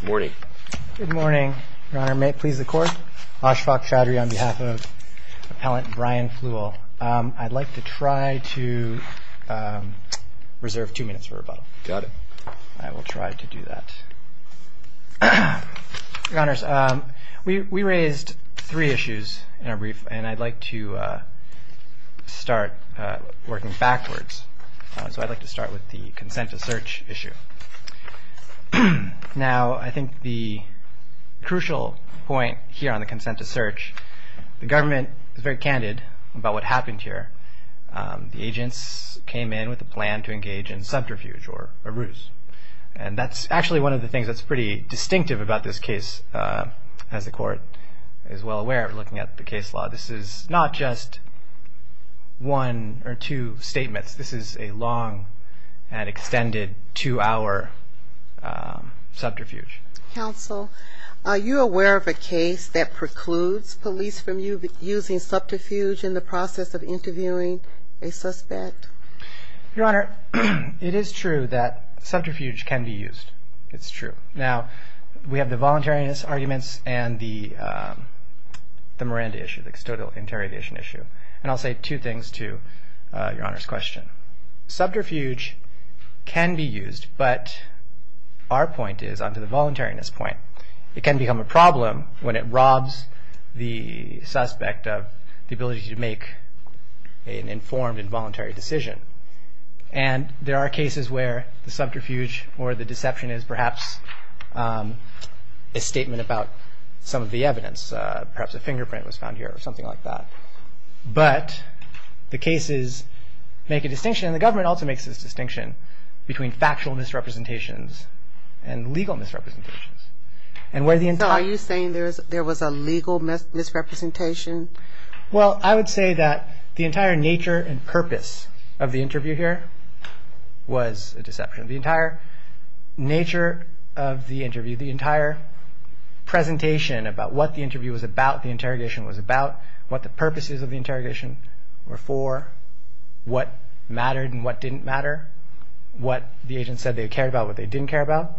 Good morning. Your Honor, may it please the Court, Ashfaq Chaudhry on behalf of Appellant Brian Flewell. I'd like to try to reserve two minutes for rebuttal. Got it. I will try to do that. Your Honors, we raised three issues in our brief and I'd like to start working backwards. So I'd like to start with the consent to search issue. Now, I think the crucial point here on the consent to search, the government is very candid about what happened here. The agents came in with a plan to engage in subterfuge or a ruse. And that's actually one of the things that's pretty distinctive about this case. As the Court is well aware, looking at the case law, this is not just one or two statements. This is a long and extended two-hour subterfuge. Counsel, are you aware of a case that precludes police from using subterfuge in the process of interviewing a suspect? Your Honor, it is true that subterfuge can be used. It's true. Now, we have the voluntariness arguments and the Miranda issue, the custodial interrogation issue. And I'll say two things to Your Honor's question. Subterfuge can be used, but our point is on to the voluntariness point. It can become a problem when it robs the suspect of the ability to make an informed and voluntary decision. And there are cases where the subterfuge or the deception is perhaps a statement about some of the evidence, perhaps a fingerprint was found here or something like that. But the cases make a distinction, and the government also makes this distinction, between factual misrepresentations and legal misrepresentations. So are you saying there was a legal misrepresentation? Well, I would say that the entire nature and purpose of the interview here was a deception. The entire nature of the interview, the entire presentation about what the interview was about, the interrogation was about, what the purposes of the interrogation were for, what mattered and what didn't matter, what the agent said they cared about, what they didn't care about,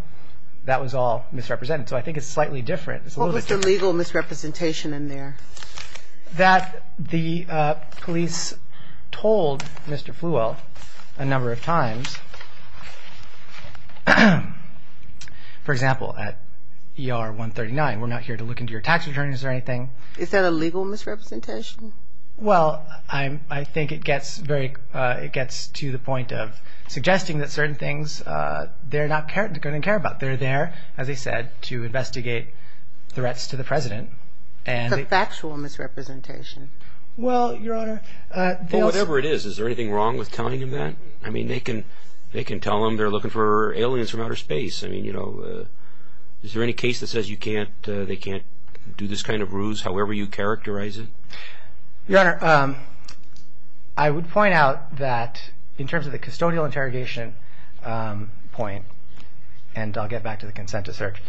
that was all misrepresented. So I think it's slightly different. What was the legal misrepresentation in there? That the police told Mr. Flewell a number of times, for example, at ER 139, we're not here to look into your tax returns or anything. Is that a legal misrepresentation? Well, I think it gets to the point of suggesting that certain things they're not going to care about. They're there, as I said, to investigate threats to the president. It's a factual misrepresentation. Well, Your Honor, they'll- Well, whatever it is, is there anything wrong with telling them that? I mean, they can tell them they're looking for aliens from outer space. I mean, you know, is there any case that says they can't do this kind of ruse, however you characterize it? Your Honor, I would point out that in terms of the custodial interrogation point, and I'll get back to the consent to search,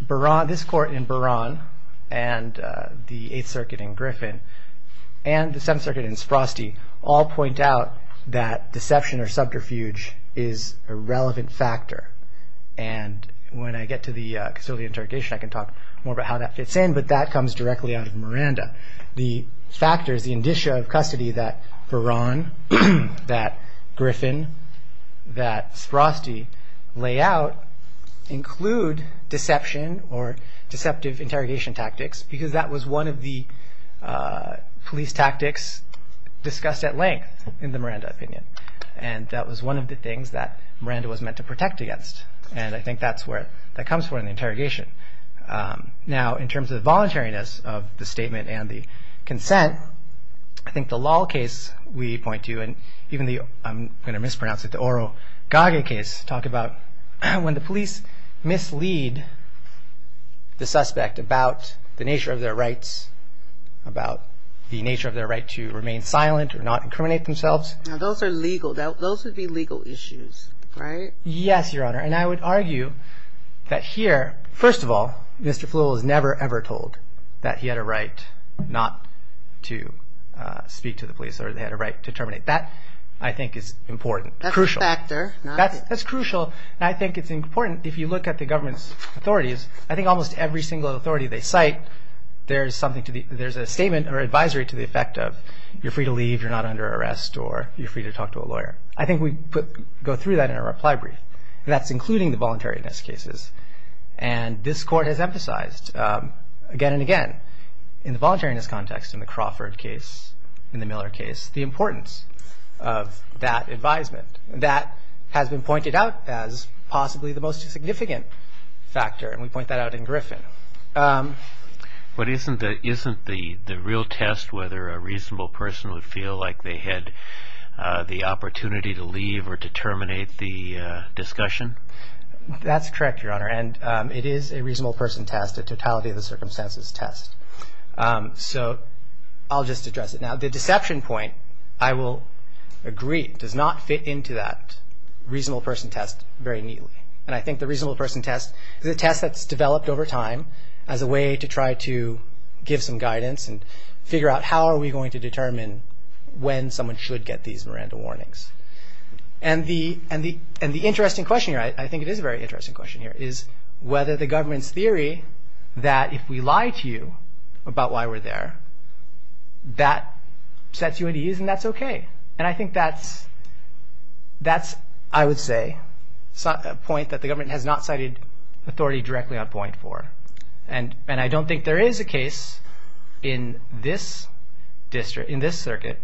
this court in Buran and the Eighth Circuit in Griffin and the Seventh Circuit in Sprosty all point out that deception or subterfuge is a relevant factor. And when I get to the custodial interrogation, I can talk more about how that fits in, but that comes directly out of Miranda. The factors, the indicia of custody that Buran, that Griffin, that Sprosty lay out include deception or deceptive interrogation tactics because that was one of the police tactics discussed at length in the Miranda opinion. And that was one of the things that Miranda was meant to protect against. And I think that's where that comes from in the interrogation. Now, in terms of the voluntariness of the statement and the consent, I think the Lahl case we point to, and even the, I'm going to mispronounce it, the Oro-Gage case, talk about when the police mislead the suspect about the nature of their rights, about the nature of their right to remain silent or not incriminate themselves. Now, those are legal. Those would be legal issues, right? Yes, Your Honor, and I would argue that here, first of all, Mr. Flewell was never ever told that he had a right not to speak to the police or that he had a right to terminate. That, I think, is important, crucial. That's a factor. That's crucial, and I think it's important if you look at the government's authorities. I think almost every single authority they cite, there's something to the, there's a statement or advisory to the effect of you're free to leave, you're not under arrest, or you're free to talk to a lawyer. I think we go through that in a reply brief, and that's including the voluntariness cases, and this Court has emphasized again and again in the voluntariness context in the Crawford case, in the Miller case, the importance of that advisement. That has been pointed out as possibly the most significant factor, and we point that out in Griffin. But isn't the real test whether a reasonable person would feel like they had the opportunity to leave or to terminate the discussion? That's correct, Your Honor, and it is a reasonable person test, a totality of the circumstances test. So I'll just address it now. The deception point, I will agree, does not fit into that reasonable person test very neatly, and I think the reasonable person test is a test that's developed over time as a way to try to give some guidance and figure out how are we going to determine when someone should get these Miranda warnings. And the interesting question here, I think it is a very interesting question here, is whether the government's theory that if we lie to you about why we're there, that sets you at ease and that's okay. And I think that's, I would say, a point that the government has not cited authority directly on point for. And I don't think there is a case in this circuit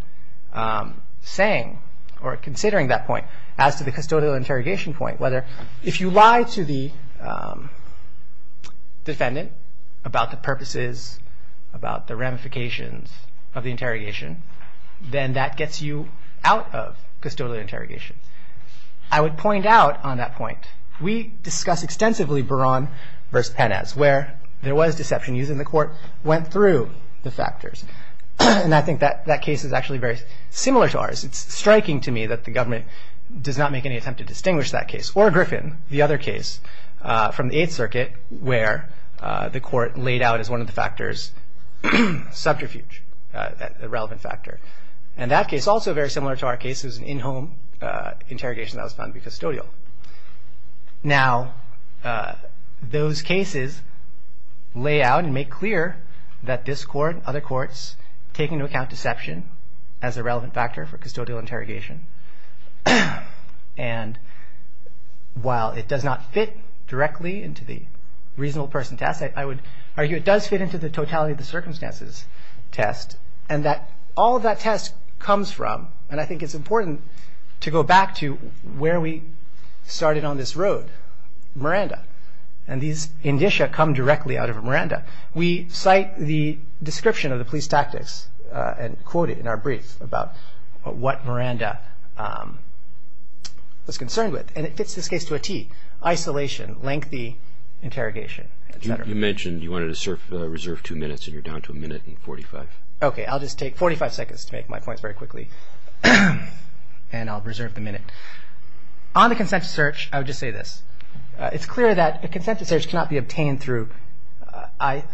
saying or considering that point as to the custodial interrogation point, whether if you lie to the defendant about the purposes, about the ramifications of the interrogation, then that gets you out of custodial interrogation. I would point out on that point, we discuss extensively Beran v. Penes, where there was deception using the court, went through the factors. And I think that case is actually very similar to ours. It's striking to me that the government does not make any attempt to distinguish that case, where the court laid out as one of the factors, subterfuge, a relevant factor. And that case, also very similar to our case, is an in-home interrogation that was found to be custodial. Now, those cases lay out and make clear that this court, other courts, take into account deception as a relevant factor for custodial interrogation. And while it does not fit directly into the reasonable person test, I would argue it does fit into the totality of the circumstances test, and that all that test comes from, and I think it's important to go back to where we started on this road, Miranda. And these indicia come directly out of Miranda. We cite the description of the police tactics and quote it in our brief about what Miranda was concerned with. And it fits this case to a tee. Isolation, lengthy interrogation, et cetera. You mentioned you wanted to reserve two minutes, and you're down to a minute and 45. Okay, I'll just take 45 seconds to make my points very quickly, and I'll reserve the minute. On the consent to search, I would just say this. It's clear that a consent to search cannot be obtained through, I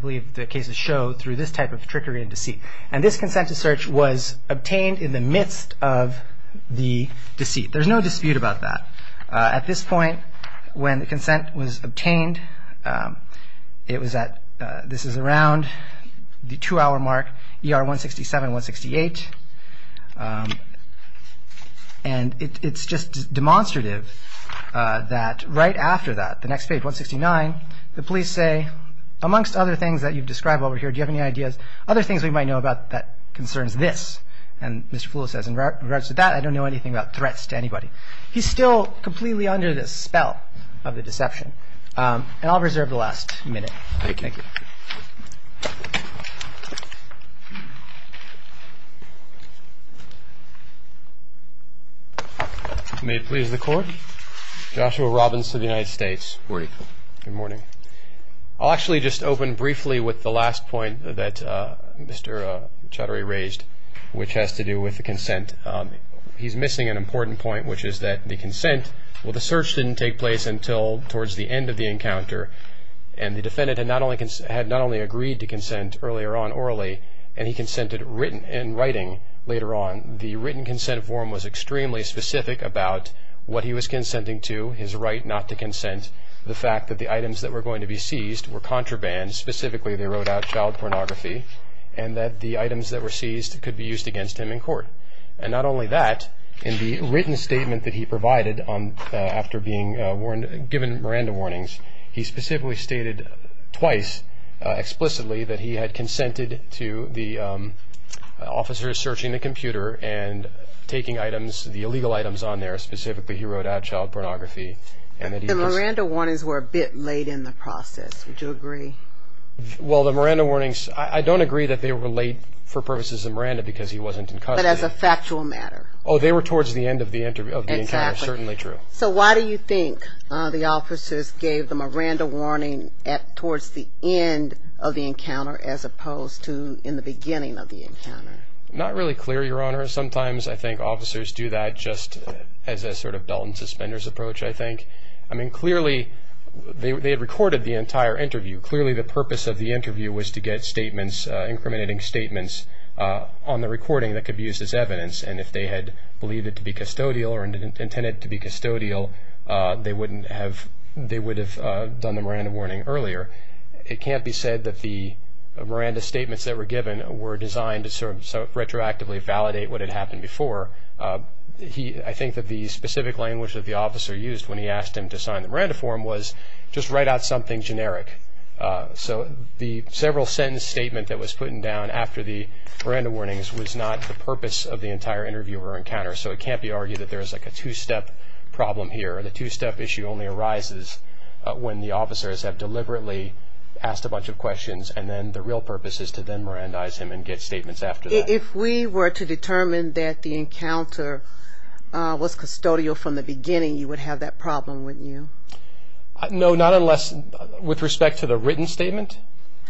believe the cases show, through this type of trickery and deceit. And this consent to search was obtained in the midst of the deceit. There's no dispute about that. At this point, when the consent was obtained, it was at, this is around the two-hour mark, ER 167, 168. And it's just demonstrative that right after that, the next page, 169, the police say, amongst other things that you've described over here, do you have any ideas, other things we might know about that concerns this? And Mr. Flula says, in regards to that, I don't know anything about threats to anybody. He's still completely under the spell of the deception. Thank you. Thank you. May it please the Court. Joshua Robbins to the United States. Good morning. Good morning. I'll actually just open briefly with the last point that Mr. Chaudhary raised, which has to do with the consent. He's missing an important point, which is that the consent, well, the search didn't take place until towards the end of the encounter. And the defendant had not only agreed to consent earlier on orally, and he consented in writing later on. The written consent form was extremely specific about what he was consenting to, his right not to consent, the fact that the items that were going to be seized were contraband, specifically they wrote out child pornography, and that the items that were seized could be used against him in court. And not only that, in the written statement that he provided after being given Miranda warnings, he specifically stated twice explicitly that he had consented to the officers searching the computer and taking items, the illegal items on there, specifically he wrote out child pornography. The Miranda warnings were a bit late in the process. Would you agree? Well, the Miranda warnings, I don't agree that they were late for purposes of Miranda because he wasn't in custody. You said as a factual matter. Oh, they were towards the end of the encounter, certainly true. So why do you think the officers gave them a Miranda warning towards the end of the encounter as opposed to in the beginning of the encounter? Not really clear, Your Honor. Sometimes I think officers do that just as a sort of belt and suspenders approach, I think. I mean, clearly they had recorded the entire interview. Clearly the purpose of the interview was to get statements, incriminating statements on the recording that could be used as evidence. And if they had believed it to be custodial or intended it to be custodial, they would have done the Miranda warning earlier. It can't be said that the Miranda statements that were given were designed to sort of retroactively validate what had happened before. I think that the specific language that the officer used when he asked him to sign the Miranda form was just write out something generic. So the several sentence statement that was put in down after the Miranda warnings was not the purpose of the entire interview or encounter, so it can't be argued that there is like a two-step problem here. The two-step issue only arises when the officers have deliberately asked a bunch of questions, and then the real purpose is to then Mirandize him and get statements after that. If we were to determine that the encounter was custodial from the beginning, you would have that problem, wouldn't you? No, not unless, with respect to the written statement?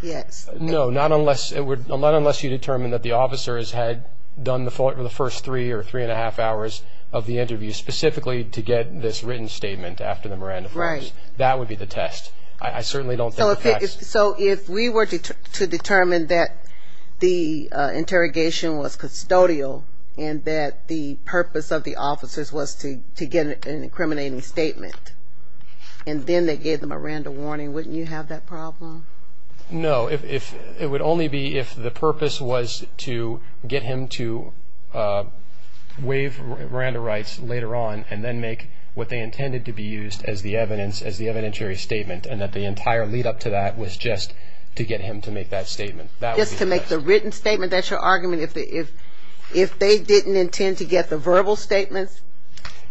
Yes. No, not unless you determine that the officers had done the first three or three and a half hours of the interview specifically to get this written statement after the Miranda forms. Right. That would be the test. I certainly don't think that's. So if we were to determine that the interrogation was custodial and that the purpose of the officers was to get an incriminating statement, and then they gave the Miranda warning, wouldn't you have that problem? No. It would only be if the purpose was to get him to waive Miranda rights later on and then make what they intended to be used as the evidence, as the evidentiary statement, and that the entire lead-up to that was just to get him to make that statement. That would be the test. Just to make the written statement, that's your argument? If they didn't intend to get the verbal statements?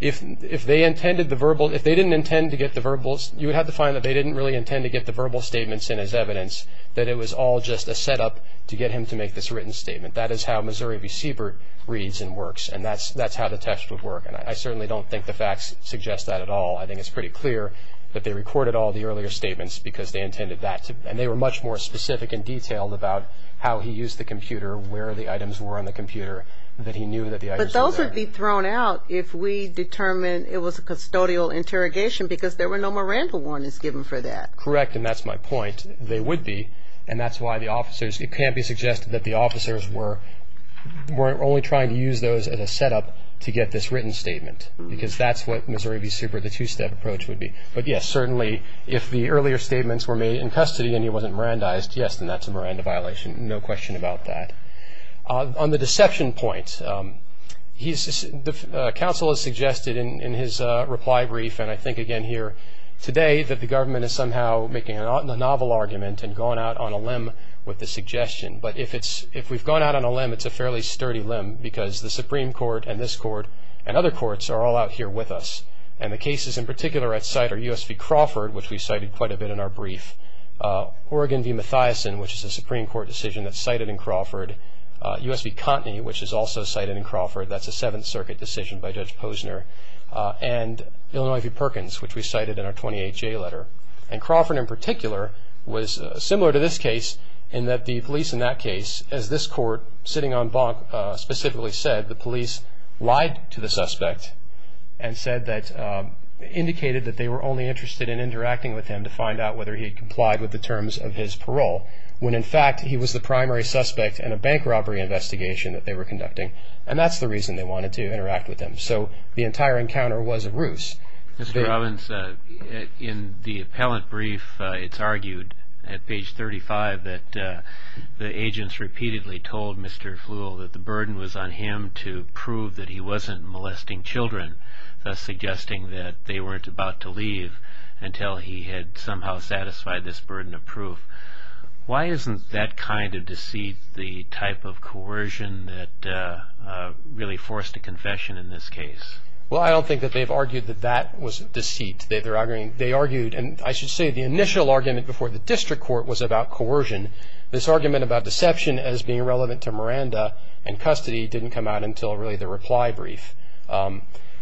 If they intended the verbal, if they didn't intend to get the verbal, you would have to find that they didn't really intend to get the verbal statements in as evidence, that it was all just a setup to get him to make this written statement. That is how Missouri v. Siebert reads and works, and that's how the test would work. And I certainly don't think the facts suggest that at all. I think it's pretty clear that they recorded all the earlier statements because they intended that. And they were much more specific and detailed about how he used the computer, where the items were on the computer, that he knew that the items were there. But those would be thrown out if we determined it was a custodial interrogation because there were no Miranda warnings given for that. Correct, and that's my point. They would be, and that's why the officers, it can't be suggested that the officers were only trying to use those as a setup to get this written statement because that's what Missouri v. Siebert, the two-step approach would be. But, yes, certainly if the earlier statements were made in custody and he wasn't Mirandized, yes, then that's a Miranda violation, no question about that. On the deception point, the counsel has suggested in his reply brief, and I think again here today, that the government is somehow making a novel argument and going out on a limb with the suggestion. But if we've gone out on a limb, it's a fairly sturdy limb because the Supreme Court and this court and other courts are all out here with us. And the cases in particular at site are U.S. v. Crawford, which we cited quite a bit in our brief, Oregon v. Mathiasen, which is a Supreme Court decision that's cited in Crawford, U.S. v. Cotney, which is also cited in Crawford, that's a Seventh Circuit decision by Judge Posner, and Illinois v. Perkins, which we cited in our 28-J letter. And Crawford in particular was similar to this case in that the police in that case, as this court sitting on bonk specifically said, the police lied to the suspect and said that, indicated that they were only interested in interacting with him to find out whether he had complied with the terms of his parole, when in fact he was the primary suspect in a bank robbery investigation that they were conducting. And that's the reason they wanted to interact with him. So the entire encounter was a ruse. Mr. Robbins, in the appellant brief, it's argued at page 35 that the agents repeatedly told Mr. Flewell that the burden was on him to prove that he wasn't molesting children, thus suggesting that they weren't about to leave until he had somehow satisfied this burden of proof. Why isn't that kind of deceit the type of coercion that really forced a confession in this case? Well, I don't think that they've argued that that was deceit. They argued, and I should say the initial argument before the district court was about coercion. This argument about deception as being relevant to Miranda and custody didn't come out until really the reply brief.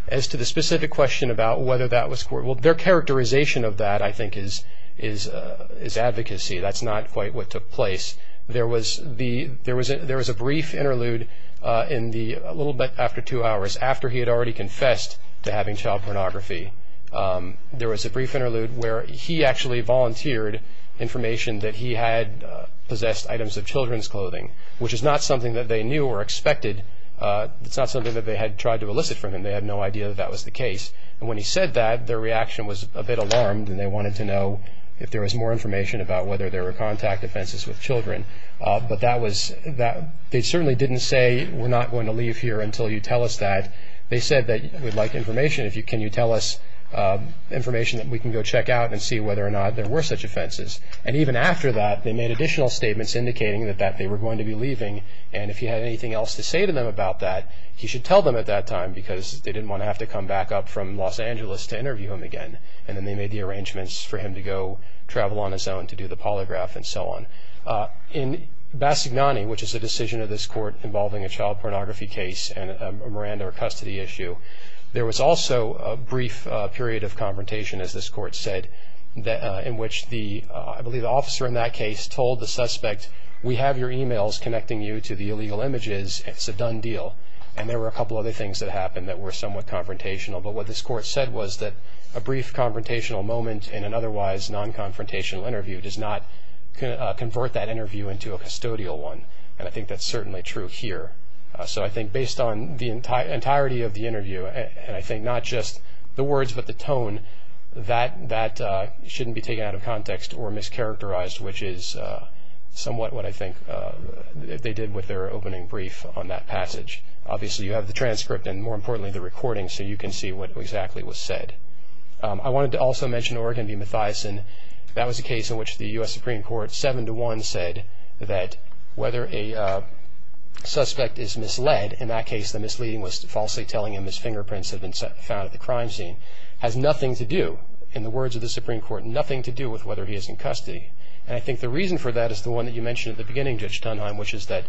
As to the specific question about whether that was coercion, well, their characterization of that, I think, is advocacy. That's not quite what took place. There was a brief interlude a little bit after two hours, after he had already confessed to having child pornography. There was a brief interlude where he actually volunteered information that he had possessed items of children's clothing, which is not something that they knew or expected. It's not something that they had tried to elicit from him. They had no idea that that was the case. And when he said that, their reaction was a bit alarmed, and they wanted to know if there was more information about whether there were contact offenses with children. But they certainly didn't say, we're not going to leave here until you tell us that. They said, we'd like information. Can you tell us information that we can go check out and see whether or not there were such offenses? And even after that, they made additional statements indicating that they were going to be leaving, and if he had anything else to say to them about that, he should tell them at that time, because they didn't want to have to come back up from Los Angeles to interview him again. And then they made the arrangements for him to go travel on his own to do the polygraph and so on. In Bassignani, which is a decision of this court involving a child pornography case and a Miranda or custody issue, there was also a brief period of confrontation, as this court said, in which I believe the officer in that case told the suspect, we have your e-mails connecting you to the illegal images, it's a done deal. And there were a couple other things that happened that were somewhat confrontational. But what this court said was that a brief confrontational moment in an otherwise non-confrontational interview does not convert that interview into a custodial one. And I think that's certainly true here. So I think based on the entirety of the interview, and I think not just the words but the tone, that shouldn't be taken out of context or mischaracterized, which is somewhat what I think they did with their opening brief on that passage. Obviously, you have the transcript and, more importantly, the recording, so you can see what exactly was said. I wanted to also mention Oregon v. Mathiasen. That was a case in which the U.S. Supreme Court 7-1 said that whether a suspect is misled, in that case the misleading was falsely telling him his fingerprints had been found at the crime scene, has nothing to do, in the words of the Supreme Court, nothing to do with whether he is in custody. And I think the reason for that is the one that you mentioned at the beginning, Judge Tunheim, which is that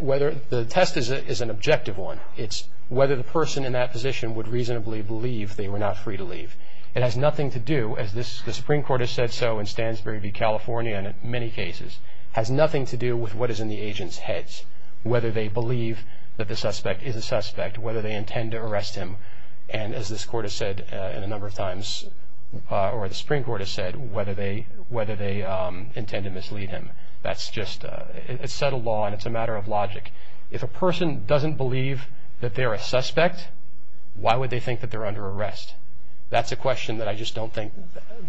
the test is an objective one. It's whether the person in that position would reasonably believe they were not free to leave. It has nothing to do, as the Supreme Court has said so in Stansbury v. California and in many cases, has nothing to do with what is in the agent's heads, whether they believe that the suspect is a suspect, whether they intend to arrest him. And as this Court has said a number of times, or the Supreme Court has said, whether they intend to mislead him. That's just a settled law and it's a matter of logic. If a person doesn't believe that they're a suspect, why would they think that they're under arrest? That's a question that I just don't think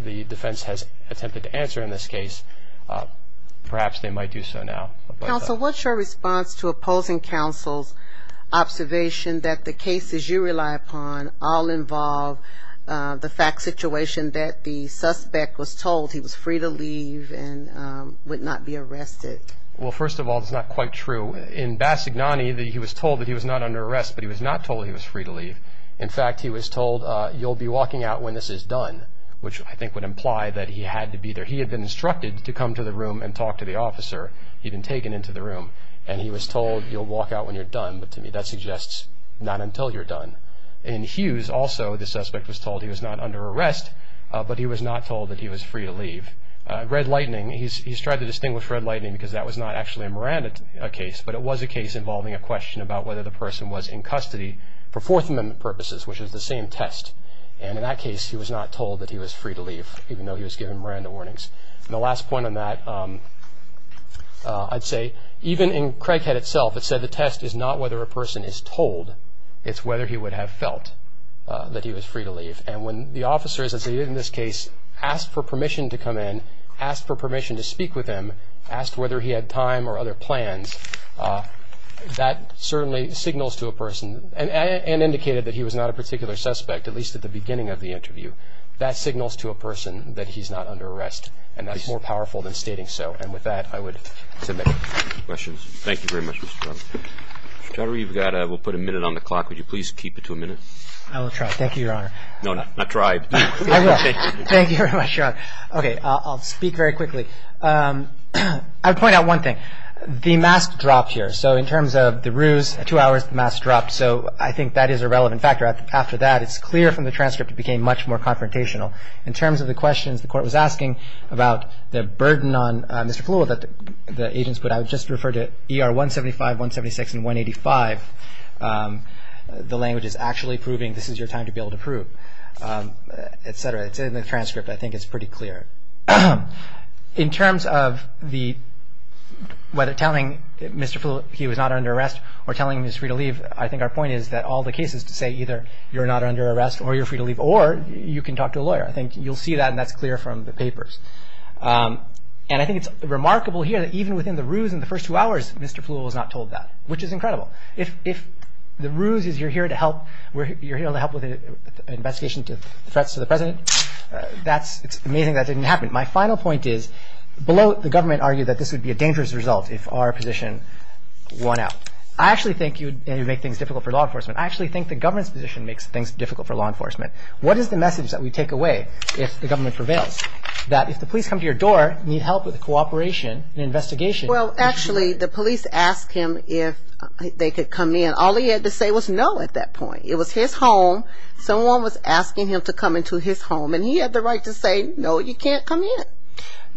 the defense has attempted to answer in this case. Perhaps they might do so now. Counsel, what's your response to opposing counsel's observation that the cases you rely upon all involve the fact situation that the suspect was told he was free to leave and would not be arrested? Well, first of all, it's not quite true. In Bassignani, he was told that he was not under arrest, but he was not told he was free to leave. In fact, he was told, you'll be walking out when this is done, which I think would imply that he had to be there. He had been instructed to come to the room and talk to the officer. He'd been taken into the room, and he was told, you'll walk out when you're done. But to me, that suggests not until you're done. In Hughes, also, the suspect was told he was not under arrest, but he was not told that he was free to leave. Red Lightning, he's tried to distinguish Red Lightning because that was not actually a Miranda case, but it was a case involving a question about whether the person was in custody for Fourth Amendment purposes, which is the same test. And in that case, he was not told that he was free to leave, even though he was given Miranda warnings. And the last point on that, I'd say, even in Craighead itself, it said the test is not whether a person is told, it's whether he would have felt that he was free to leave. And when the officers, as they did in this case, asked for permission to come in, asked for permission to speak with him, asked whether he had time or other plans, that certainly signals to a person and indicated that he was not a particular suspect, at least at the beginning of the interview. That signals to a person that he's not under arrest, and that's more powerful than stating so. And with that, I would submit. Questions? Thank you very much, Mr. Trotter. Mr. Trotter, you've got, we'll put a minute on the clock. Would you please keep it to a minute? I will try. Thank you, Your Honor. No, not try. I will. Thank you very much, Your Honor. Okay. I'll speak very quickly. I'll point out one thing. The mask dropped here. So in terms of the ruse, two hours, the mask dropped. So I think that is a relevant factor. After that, it's clear from the transcript, it became much more confrontational. In terms of the questions the Court was asking about the burden on Mr. Fulwell that the agents put, I would just refer to ER 175, 176, and 185. The language is actually proving this is your time to be able to prove, et cetera. It's in the transcript. I think it's pretty clear. In terms of the, whether telling Mr. Fulwell he was not under arrest or telling Ms. Reed to leave, I think our point is that all the cases to say either you're not under arrest or you're free to leave or you can talk to a lawyer. I think you'll see that, and that's clear from the papers. And I think it's remarkable here that even within the ruse in the first two hours, Mr. Fulwell was not told that, which is incredible. If the ruse is you're here to help, you're here to help with an investigation to threats to the President, it's amazing that didn't happen. My final point is below the government argued that this would be a dangerous result if our position won out. I actually think you'd make things difficult for law enforcement. I actually think the government's position makes things difficult for law enforcement. What is the message that we take away if the government prevails? That if the police come to your door, you need help with cooperation and investigation. Well, actually, the police asked him if they could come in. All he had to say was no at that point. It was his home. Someone was asking him to come into his home, and he had the right to say no, you can't come in.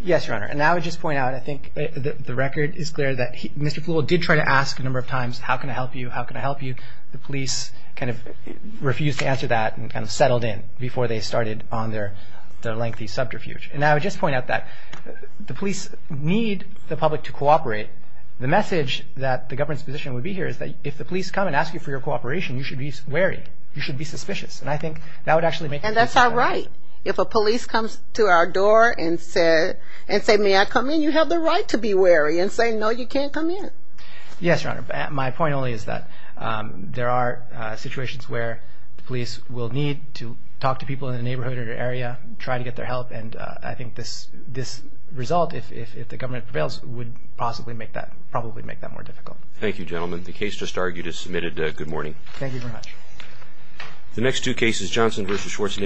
Yes, Your Honor. And I would just point out, I think the record is clear that Mr. Fulwell did try to ask a number of times, how can I help you, how can I help you? The police kind of refused to answer that and kind of settled in before they started on their lengthy subterfuge. And I would just point out that the police need the public to cooperate. The message that the government's position would be here is that if the police come and ask you for your cooperation, you should be wary, you should be suspicious. And I think that would actually make things difficult. If a police comes to our door and say, may I come in? You have the right to be wary and say no, you can't come in. Yes, Your Honor. My point only is that there are situations where the police will need to talk to people in the neighborhood or area, try to get their help. And I think this result, if the government prevails, would possibly make that more difficult. Thank you, gentlemen. The case just argued is submitted. Good morning. Thank you very much. The next two cases, Johnson v. Schwartz,